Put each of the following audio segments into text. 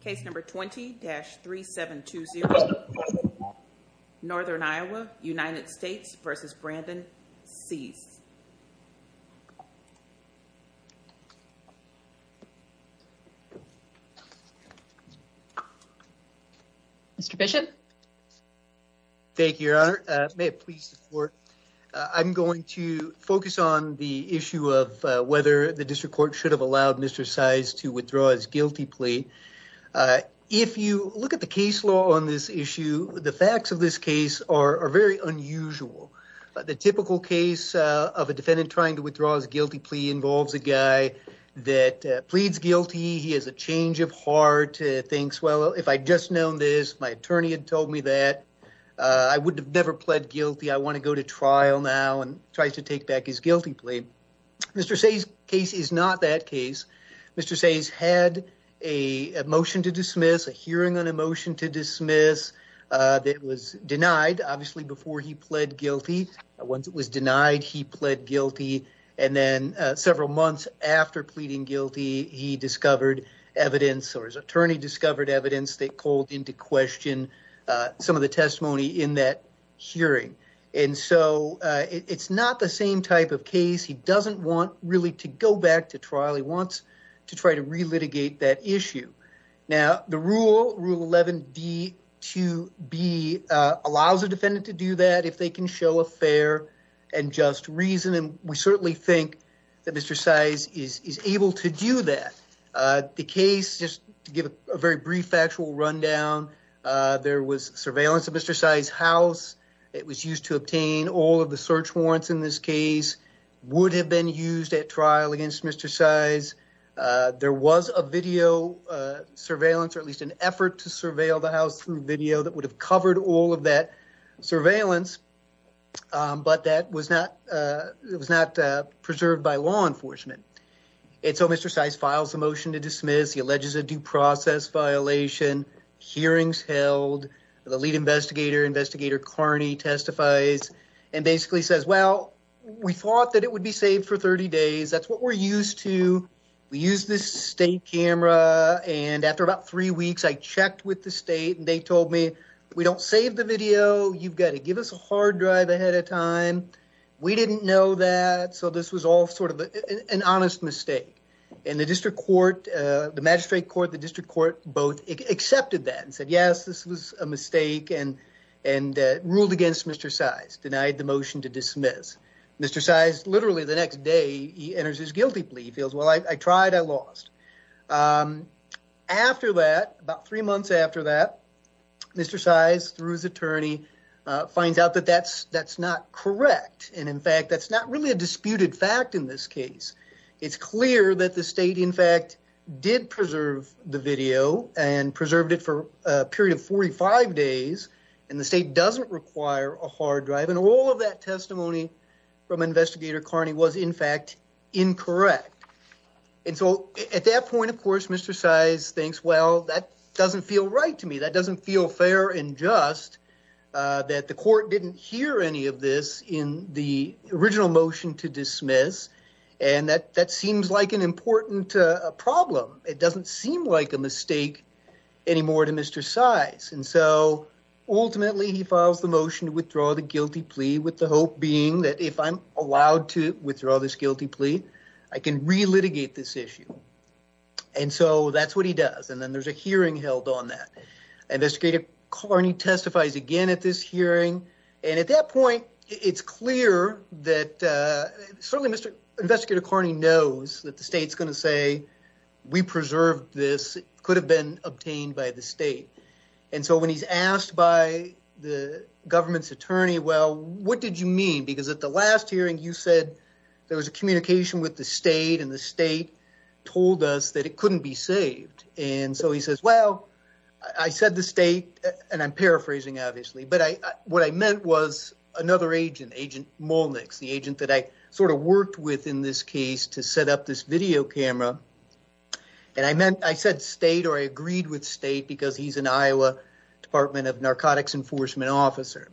Case number 20-3720, Northern Iowa, United States v. Brandon Seys. Mr. Bishop. Thank you, Your Honor. May it please the court. I'm going to focus on the issue of whether the district court should have allowed Mr. Seys to withdraw his guilty plea. If you look at the case law on this issue, the facts of this case are very unusual. The typical case of a defendant trying to withdraw his guilty plea involves a guy that pleads guilty. He has a change of heart, thinks, well, if I'd just known this, my attorney had told me that, I would have never pled guilty. I want to go to trial now, and tries to take back his guilty plea. Mr. Seys' case is not that case. Mr. Seys had a motion to dismiss, a hearing on a motion to dismiss, that was denied, obviously, before he pled guilty. Once it was denied, he pled guilty, and then several months after pleading guilty, he discovered evidence, or his attorney discovered evidence, that called into question some of the testimony in that hearing. And so, it's not the same type of case. He doesn't want really to go back to trial. He wants to try to re-litigate that issue. Now, the rule, Rule 11d 2b, allows a defendant to do that if they can show a fair and just reason, and we certainly think that Mr. Seys is able to do that. The case, just to give a very brief factual rundown, there was surveillance of Mr. Seys' house. It was used to obtain all of the search warrants in this case, would have been used at trial against Mr. Seys. There was a video surveillance, or at least an effort to surveil the house through video, that would have covered all of that surveillance, but that was not preserved by law enforcement. And so, Mr. Seys files a motion to the lead investigator, investigator Carney testifies, and basically says, well, we thought that it would be saved for 30 days. That's what we're used to. We use this state camera, and after about three weeks, I checked with the state, and they told me, we don't save the video. You've got to give us a hard drive ahead of time. We didn't know that. So, this was all sort of an honest mistake. And the district court, the magistrate court, the district court, both accepted that and said, yes, this was a mistake and ruled against Mr. Seys, denied the motion to dismiss. Mr. Seys, literally the next day, he enters his guilty plea. He feels, well, I tried, I lost. After that, about three months after that, Mr. Seys, through his attorney, finds out that that's not correct. And in fact, that's not really a disputed fact in this case. It's clear that the state, in fact, did preserve the video and preserved it for a period of 45 days, and the state doesn't require a hard drive. And all of that testimony from investigator Carney was, in fact, incorrect. And so, at that point, of course, Mr. Seys thinks, well, that doesn't feel right to me. That doesn't feel fair and just that the court didn't hear any of this in the original motion to dismiss. And that seems like an important problem. It doesn't seem like a mistake anymore to Mr. Seys. And so, ultimately, he files the motion to withdraw the guilty plea with the hope being that if I'm allowed to withdraw this guilty plea, I can re-litigate this issue. And so, that's what he does. And then there's a hearing held on that. Investigator Carney testifies again at this hearing. And at that point, it's clear that certainly Mr. Investigator Carney knows that the state's going to say, we preserved this. It could have been obtained by the state. And so, when he's asked by the government's attorney, well, what did you mean? Because at the last hearing, you said there was a communication with the state and the state told us that it couldn't be saved. And so, he says, well, I said the state, and I'm paraphrasing obviously, but what I meant was another agent, Agent Molnix, the agent that I sort of worked with in this case to set up this video camera. And I said state or I agreed with state because he's an Iowa Department of Narcotics Enforcement officer.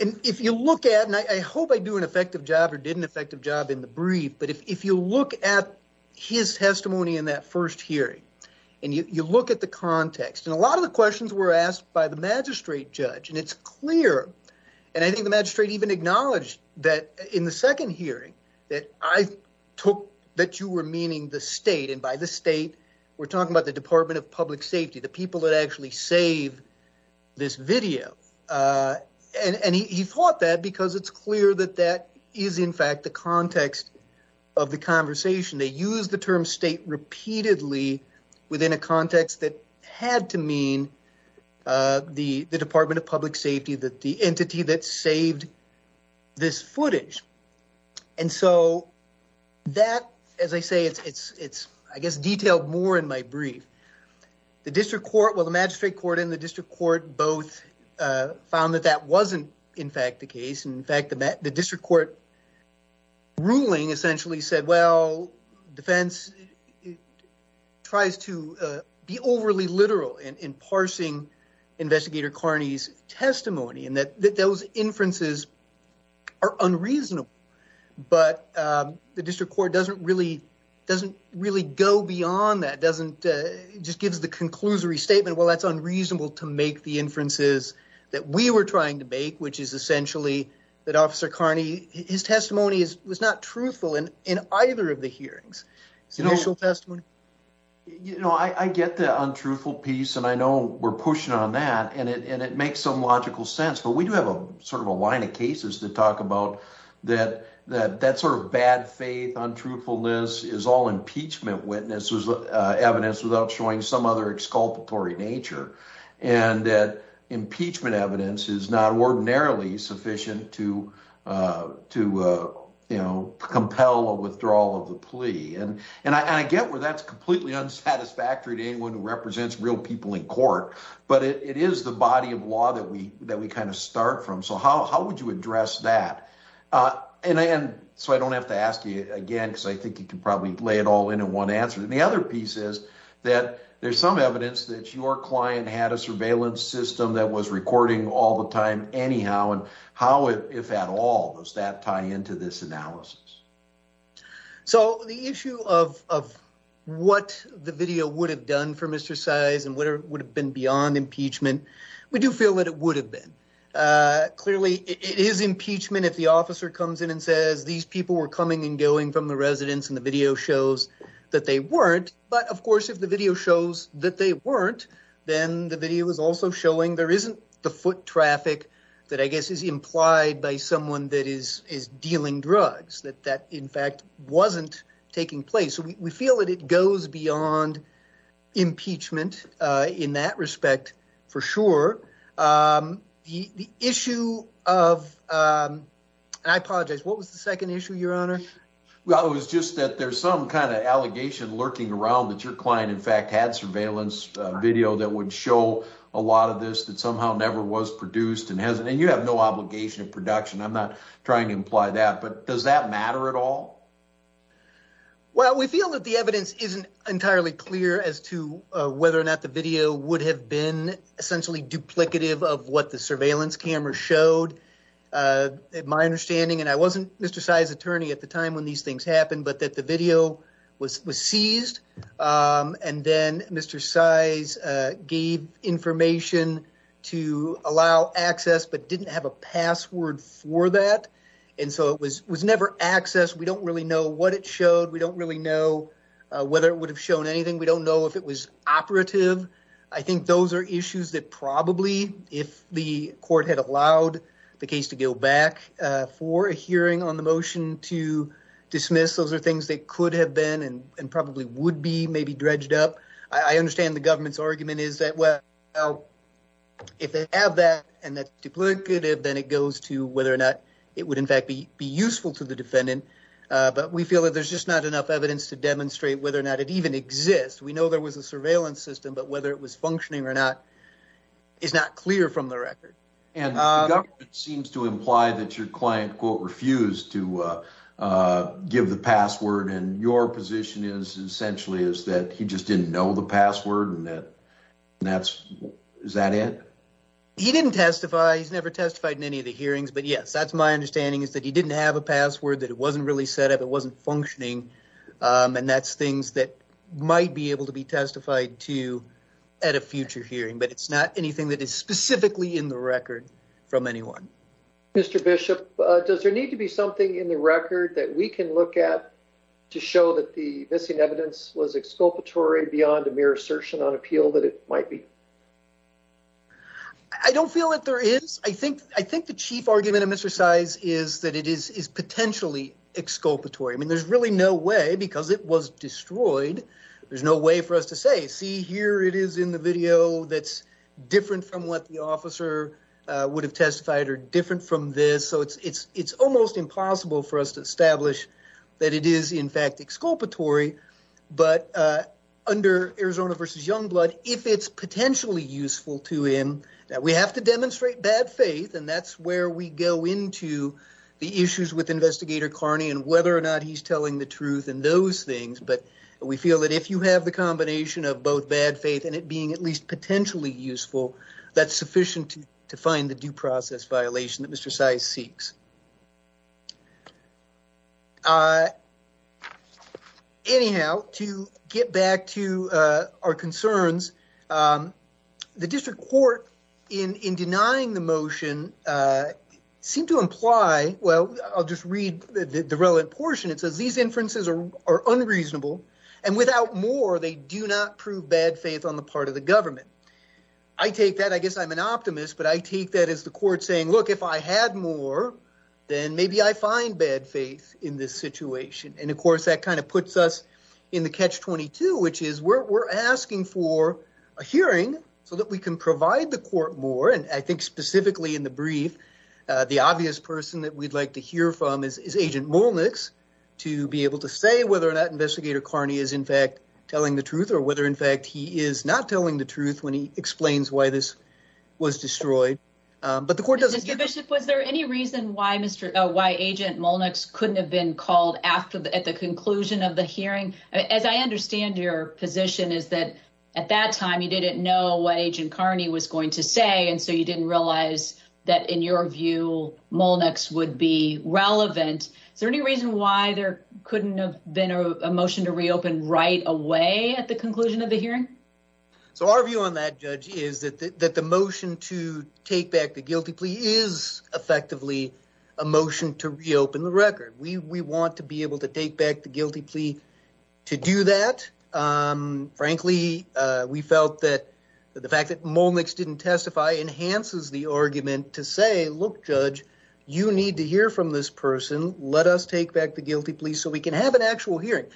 And if you look at, and I hope I do an effective job or did an effective job in the brief, but if you look at his testimony in that first hearing, and you look at the context, and a lot of the questions were asked by the magistrate judge, and it's clear. And I think the magistrate even acknowledged that in the second hearing, that I took that you were meaning the state and by the state, we're talking about the Department of Public Safety, the people that actually save this video. And he thought that because it's clear that that is in fact, the context of the conversation, they use the term state repeatedly, within a context that had to mean the Department of Public Safety that the entity that saved this footage. And so that, as I say, it's, I guess, detailed more in my brief. The district court, well, the magistrate court and the district court both found that that wasn't, in fact, the case. In fact, the district court ruling essentially said, well, defense tries to be overly literal in parsing Investigator Carney's testimony, and that those inferences are unreasonable. But the district court doesn't really, doesn't really go beyond that, doesn't just gives the conclusory statement, well, that's unreasonable to make the inferences that we were trying to make, which is essentially that Officer Carney, his testimony was not truthful in either of the hearings. You know, I get the untruthful piece, and I know we're pushing on that, and it makes some logical sense. But we do have a sort of a line of cases to talk about that, that sort of bad faith, untruthfulness is all impeachment witnesses, evidence without showing some other exculpatory nature. And that impeachment evidence is not ordinarily sufficient to, you know, compel a withdrawal of the plea. And I get where that's completely unsatisfactory to anyone who represents real people in court, but it is the body of law that we kind of start from. So how would you address that? And so I don't have to ask you again, because I think you can probably lay it all in in one answer. And the other piece is that there's some evidence that your client had a surveillance system that was recording all the time anyhow, and how, if at all, does that tie into this analysis? So the issue of what the video would have done for Mr. Size and what would have been beyond impeachment, we do feel that it would have been. Clearly, it is impeachment if the officer comes in and says, these people were coming and going from the residence, and the video shows that they weren't. But of course, if the video shows that they weren't, then the video is also showing there isn't the foot traffic that I guess is implied by someone that is dealing drugs, that that in fact wasn't taking place. So we feel that it goes beyond impeachment in that respect, for sure. The issue of, and I apologize, what was the second issue, Your Honor? Well, it was just that there's some kind of allegation lurking around that your client in fact had a surveillance video that would show a lot of this that somehow never was produced, and you have no obligation of production. I'm not trying to imply that, but does that matter at all? Well, we feel that the evidence isn't entirely clear as to whether or not the video would have been essentially duplicative of what the surveillance camera showed. My understanding, and I wasn't Mr. Size's attorney at the time when these things happened, but that the video was seized, and then Mr. Size gave information to allow access but didn't have a password for that. And so it was never accessed. We don't really know what it showed. We don't really know whether it would have shown anything. We don't know if it was operative. I think those are issues that probably if the court had allowed the case to go back for a hearing on the motion to and probably would be maybe dredged up. I understand the government's argument is that, well, if they have that and that's duplicative, then it goes to whether or not it would in fact be useful to the defendant. But we feel that there's just not enough evidence to demonstrate whether or not it even exists. We know there was a surveillance system, but whether it was functioning or not is not clear from the record. And it seems to imply that your client quote essentially is that he just didn't know the password and that's, is that it? He didn't testify. He's never testified in any of the hearings. But yes, that's my understanding is that he didn't have a password, that it wasn't really set up, it wasn't functioning. And that's things that might be able to be testified to at a future hearing, but it's not anything that is specifically in the record from anyone. Mr. Bishop, does there need to be something in the record that we can look at to show that the missing evidence was exculpatory beyond a mere assertion on appeal that it might be? I don't feel that there is. I think, I think the chief argument of Mr. Size is that it is potentially exculpatory. I mean, there's really no way because it was destroyed. There's no way for us to say, see, here it is in the video that's different from what the officer would have testified or different from this. So it's almost impossible for us to establish that it is in fact exculpatory. But under Arizona v. Youngblood, if it's potentially useful to him, that we have to demonstrate bad faith and that's where we go into the issues with Investigator Carney and whether or not he's telling the truth and those things. But we feel that if you have the combination of both bad faith and it being at least potentially useful, that's sufficient to find the due process violation that Mr. Size seeks. Anyhow, to get back to our concerns, the district court in denying the motion seem to imply, well, I'll just read the relevant portion. It says these inferences are unreasonable and without more, they do not prove bad faith on the part of the government. I take that, I guess I'm an optimist, but I take that as the court saying, look, if I had more, then maybe I find bad faith in this situation. And of course, that kind of puts us in the catch-22, which is we're asking for a hearing so that we can provide the court more. And I think specifically in the brief, the obvious person that we'd like to hear from is Agent Molnix to be able to say whether or not Investigator Carney is in fact telling the truth or whether in fact he is not telling the truth when he explains why this was destroyed. But the court was there any reason why Agent Molnix couldn't have been called at the conclusion of the hearing? As I understand your position is that at that time, you didn't know what Agent Carney was going to say. And so you didn't realize that in your view, Molnix would be relevant. Is there any reason why there couldn't have been a motion to reopen right away at the conclusion of the hearing? I think there actually is effectively a motion to reopen the record. We want to be able to take back the guilty plea to do that. Frankly, we felt that the fact that Molnix didn't testify enhances the argument to say, look, Judge, you need to hear from this person. Let us take back the guilty plea so we can have an actual hearing.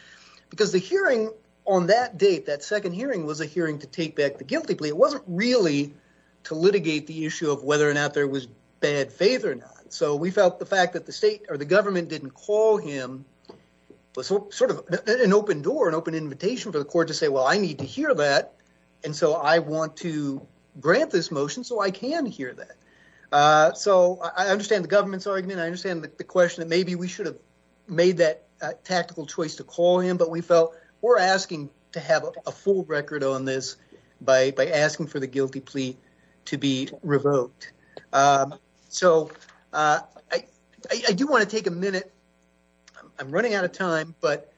Because the hearing on that date, that second hearing was a hearing to take back the guilty plea. It wasn't really to litigate the issue of whether or not there was bad faith or not. So we felt the fact that the state or the government didn't call him was sort of an open door, an open invitation for the court to say, well, I need to hear that. And so I want to grant this motion so I can hear that. So I understand the government's argument. I understand the question that maybe we should have made that tactical choice to call him. But we felt we're asking to have a full record on this by asking for the state. So I do want to take a minute. I'm running out of time, but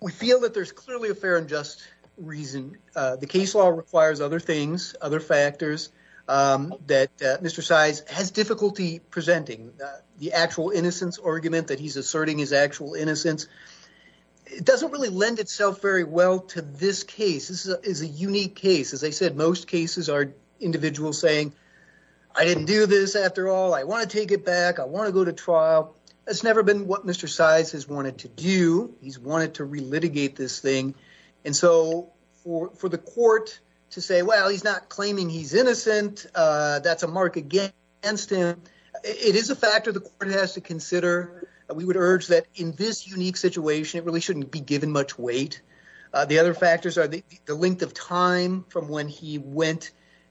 we feel that there's clearly a fair and just reason. The case law requires other things, other factors that Mr. Size has difficulty presenting. The actual innocence argument that he's asserting his actual innocence, it doesn't really lend itself very well to this case. This is a unique case. As I said, most cases are individuals saying, I didn't do this after all. I want to take it back. I want to go to trial. It's never been what Mr. Size has wanted to do. He's wanted to relitigate this thing. And so for the court to say, well, he's not claiming he's innocent. That's a mark against him. It is a factor the court has to consider. We would urge that in this unique situation, it really shouldn't be given much weight. The other factors are the went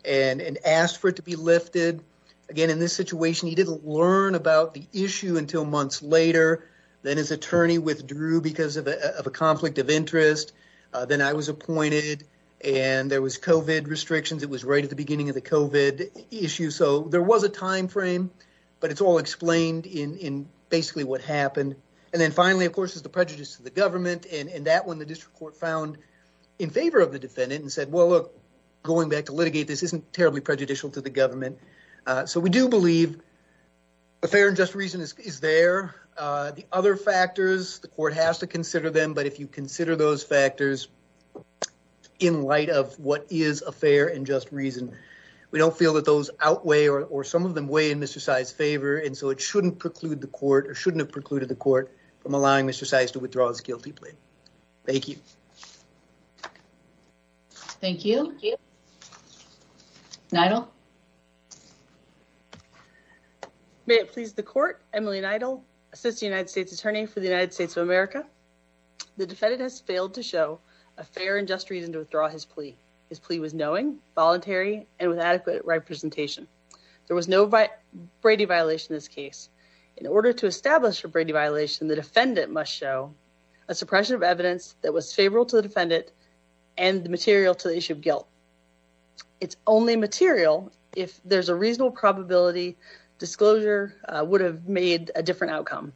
and asked for it to be lifted. Again, in this situation, he didn't learn about the issue until months later. Then his attorney withdrew because of a conflict of interest. Then I was appointed and there was COVID restrictions. It was right at the beginning of the COVID issue. So there was a timeframe, but it's all explained in basically what happened. And then finally, of course, is the prejudice to the government. And that one, the district court found in favor of the defendant and said, well, look, going back to litigate, this isn't terribly prejudicial to the government. So we do believe the fair and just reason is there. The other factors, the court has to consider them. But if you consider those factors in light of what is a fair and just reason, we don't feel that those outweigh or some of them weigh in Mr. Size's favor. And so it shouldn't preclude the court or shouldn't have precluded the court from allowing Mr. Size to withdraw his guilty plea. Thank you. Thank you. Thank you. Nidal. May it please the court, Emily Nidal, Assistant United States Attorney for the United States of America. The defendant has failed to show a fair and just reason to withdraw his plea. His plea was knowing, voluntary, and with adequate representation. There was no Brady violation in order to establish a Brady violation, the defendant must show a suppression of evidence that was favorable to the defendant and the material to the issue of guilt. It's only material if there's a reasonable probability disclosure would have made a different outcome.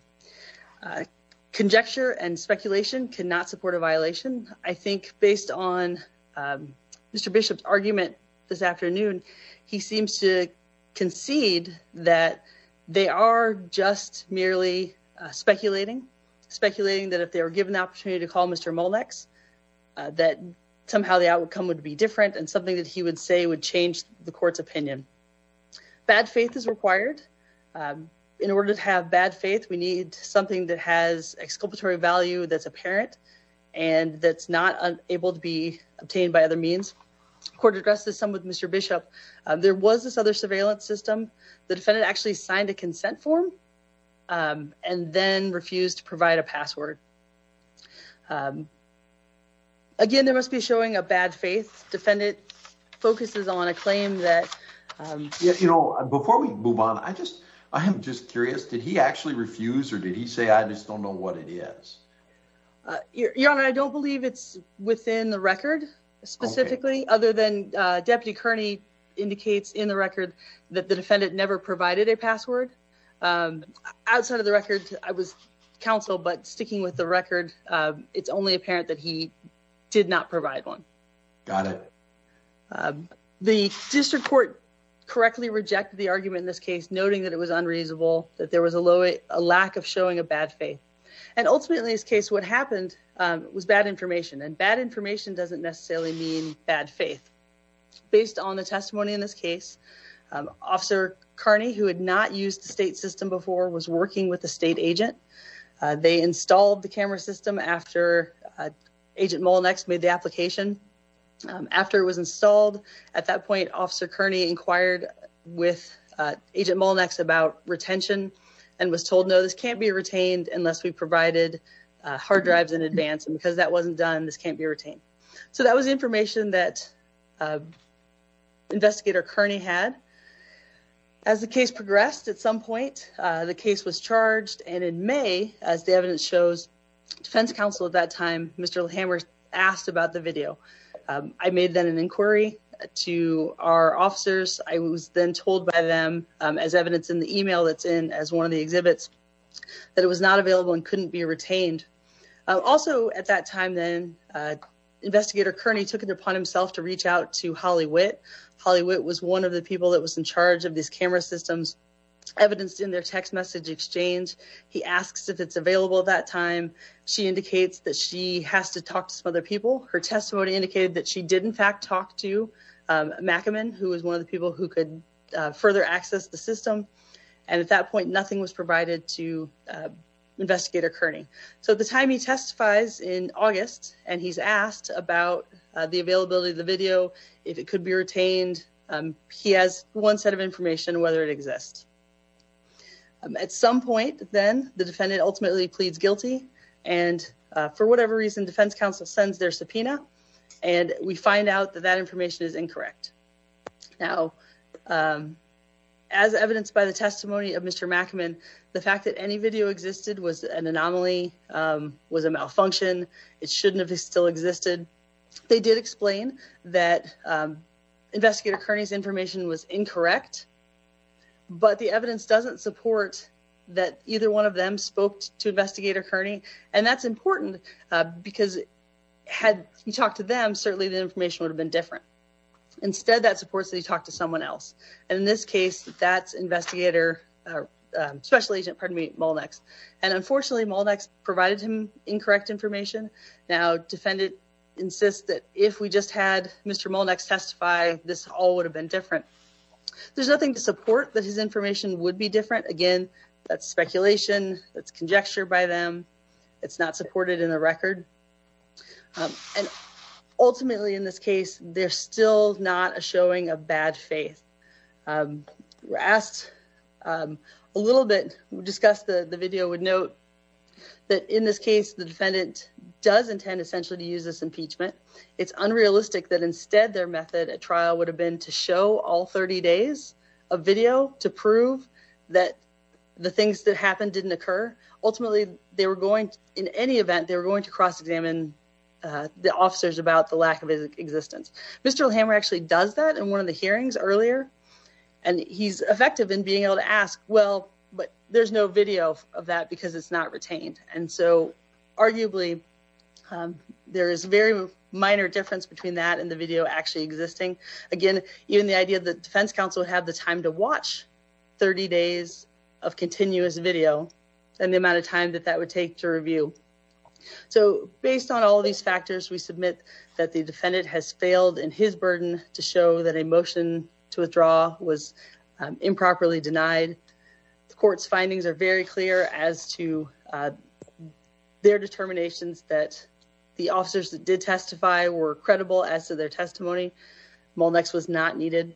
Conjecture and speculation cannot support a violation. I think based on Mr. Bishop's argument this afternoon, he seems to concede that they are just merely speculating, speculating that if they were given the opportunity to call Mr. Molex, that somehow the outcome would be different and something that he would say would change the court's opinion. Bad faith is required. In order to have bad faith, we need something that has exculpatory value that's apparent and that's not able to be obtained by other means. The court addressed this some with Mr. Bishop. There was this other surveillance system. The defendant actually signed a consent form and then refused to provide a password. Again, there must be showing a bad faith. Defendant focuses on a claim that, you know, before we move on, I just, I am just curious, did he actually refuse or did he say, I just don't know what it is? Your Honor, I don't believe it's within the record, specifically, other than Deputy Kearney indicates in the record that the defendant never provided a password. Outside of the record, I was counsel, but sticking with the record, it's only apparent that he did not provide one. Got it. The district court correctly rejected the argument in this case, noting that it was unreasonable, that there was a low, a lack of showing a bad faith. And ultimately this case, what happened was bad information and bad information doesn't necessarily mean bad faith. Based on the testimony in this case, Officer Kearney, who had not used the state system before, was working with the state agent. They installed the camera system after Agent Molnix made the application. After it was installed at that point, Officer Kearney inquired with Agent Molnix about retention and was told, no, this can't be retained unless we provided hard drives in advance. And because that wasn't done, this can't be retained. So that was the information that Investigator Kearney had. As the case progressed, at some point, the case was charged. And in May, as the evidence shows, defense counsel at that time, Mr. Hammer, asked about the video. I made then an inquiry to our officers. I was then told by them as evidence in the email that's in as one of the exhibits that it was not available and couldn't be retained. Also at that time then, Investigator Kearney took it upon himself to reach out to Holly Witt. Holly Witt was one of the people that was in charge of these camera systems, evidenced in their text message exchange. He asks if it's available at that time. She indicates that she has to talk to some other people. Her testimony indicated that she did, in fact, talk to Mackaman, who was one of the people who could further access the system. And at that point, nothing was provided to Investigator Kearney. So at the time he testifies in August and he's asked about the availability of the video, if it could be retained, he has one set of information whether it exists. At some point then, the defendant ultimately pleads guilty. And for whatever reason, defense counsel sends their subpoena and we find out that that information is incorrect. Now, as evidenced by the testimony of Mr. Mackaman, the fact that any video existed was an anomaly, was a malfunction. It shouldn't have still existed. They did explain that Investigator Kearney's information was incorrect, but the evidence doesn't support that either one of them spoke to Investigator Kearney. And that's important because had you talked to them, certainly the information would have been different. Instead, that supports that he talked to someone else. And in this case, that's Investigator, Special Agent, pardon me, Molnax. And unfortunately, Molnax provided him incorrect information. Now, defendant insists that if we just had Mr. Molnax testify, this all would have been different. There's nothing to support that his information would be different. Again, that's speculation. That's conjecture by them. It's not supported in the record. And ultimately, in this case, there's still not a showing of bad faith. We're asked a little bit, discuss the video would note that in this case, the defendant does intend essentially to use this impeachment. It's unrealistic that instead their method at trial would have been to show all 30 days of video to prove that the things that happened didn't occur. Ultimately, they were going to, in any event, they were going to cross-examine the officers about the lack of existence. Mr. O'Hammer actually does that in one of the hearings earlier. And he's effective in being able to ask, well, but there's no video of that because it's not retained. And so arguably, there is very minor difference between that and the video actually existing. Again, even the idea that defense counsel would have the time to watch 30 days of continuous video and the amount of time that that would take to review. So based on all of these factors, we submit that the defendant has failed in his burden to show that a motion to withdraw was improperly denied. The court's findings are very clear as to their determinations that the officers that did testify were credible as to their testimony. Molnix was not needed.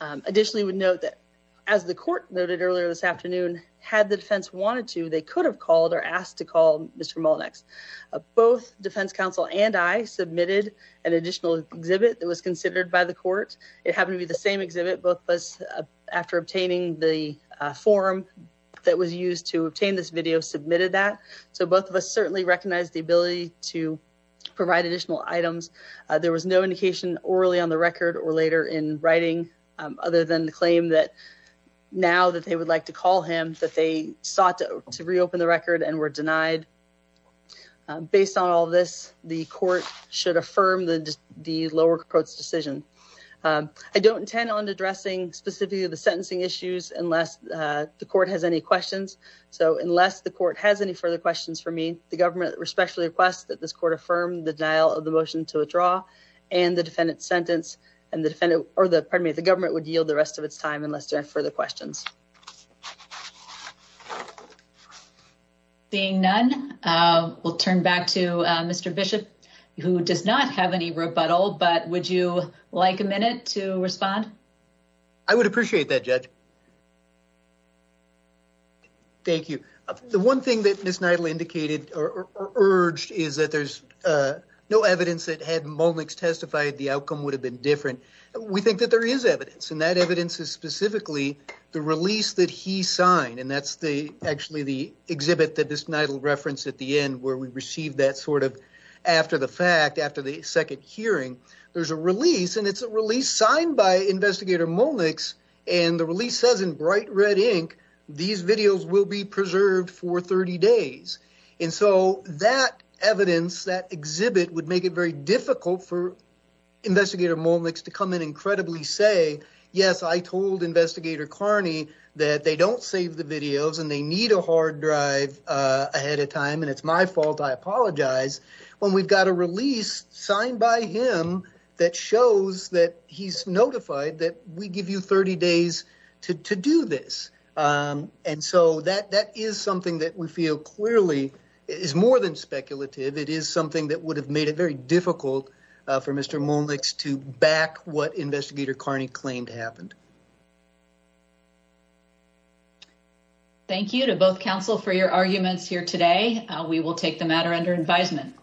Additionally, we note that as the court noted earlier this afternoon, had the defense wanted to, they could have called or asked to call Mr. Molnix. Both defense counsel and I submitted an additional exhibit that was considered by the court. It happened to be the same exhibit. Both of us, after obtaining the form that was used to obtain this video, submitted that. So both of us certainly recognize the ability to provide additional items. There was no indication orally on the record or later in writing other than the claim that now that they would like to call him, that they sought to reopen the record and were denied based on all of this. The court should affirm the lower court's decision. I don't intend on addressing specifically the sentencing issues unless the court has any questions. So unless the court has any further questions for me, the government respectfully requests that this court affirm the denial of the motion to withdraw and the defendant's sentence and the defendant, or the pardon me, the government would yield the rest of its time unless there are further questions. Seeing none, we'll turn back to Mr. Bishop, who does not have any rebuttal, but would you like a minute to respond? I would appreciate that, Judge. Thank you. The one thing that Ms. Nidale indicated or urged is that there's no evidence that had Molnix testified the outcome would have been different. We think that there is evidence and that evidence is specifically the release that he signed. And that's actually the exhibit that Ms. Nidale referenced at the end where we received that sort of after the fact, after the second hearing. There's a release and it's a release signed by Investigator Molnix and the release says in bright red ink, these videos will be preserved for 30 days. And so that evidence, that exhibit would make it very difficult for Investigator Molnix to come in and credibly say, yes, I told Investigator Carney that they don't save the videos and they need a hard drive ahead of time and it's my fault, I apologize. When we've got a release signed by him that shows that he's notified that we give you 30 days to do this. And so that is something that we feel clearly is more than speculative. It is something that would have made it very difficult for Mr. Molnix to back what Investigator Carney claimed happened. Thank you to both counsel for your arguments here today. We will take the matter under advisement.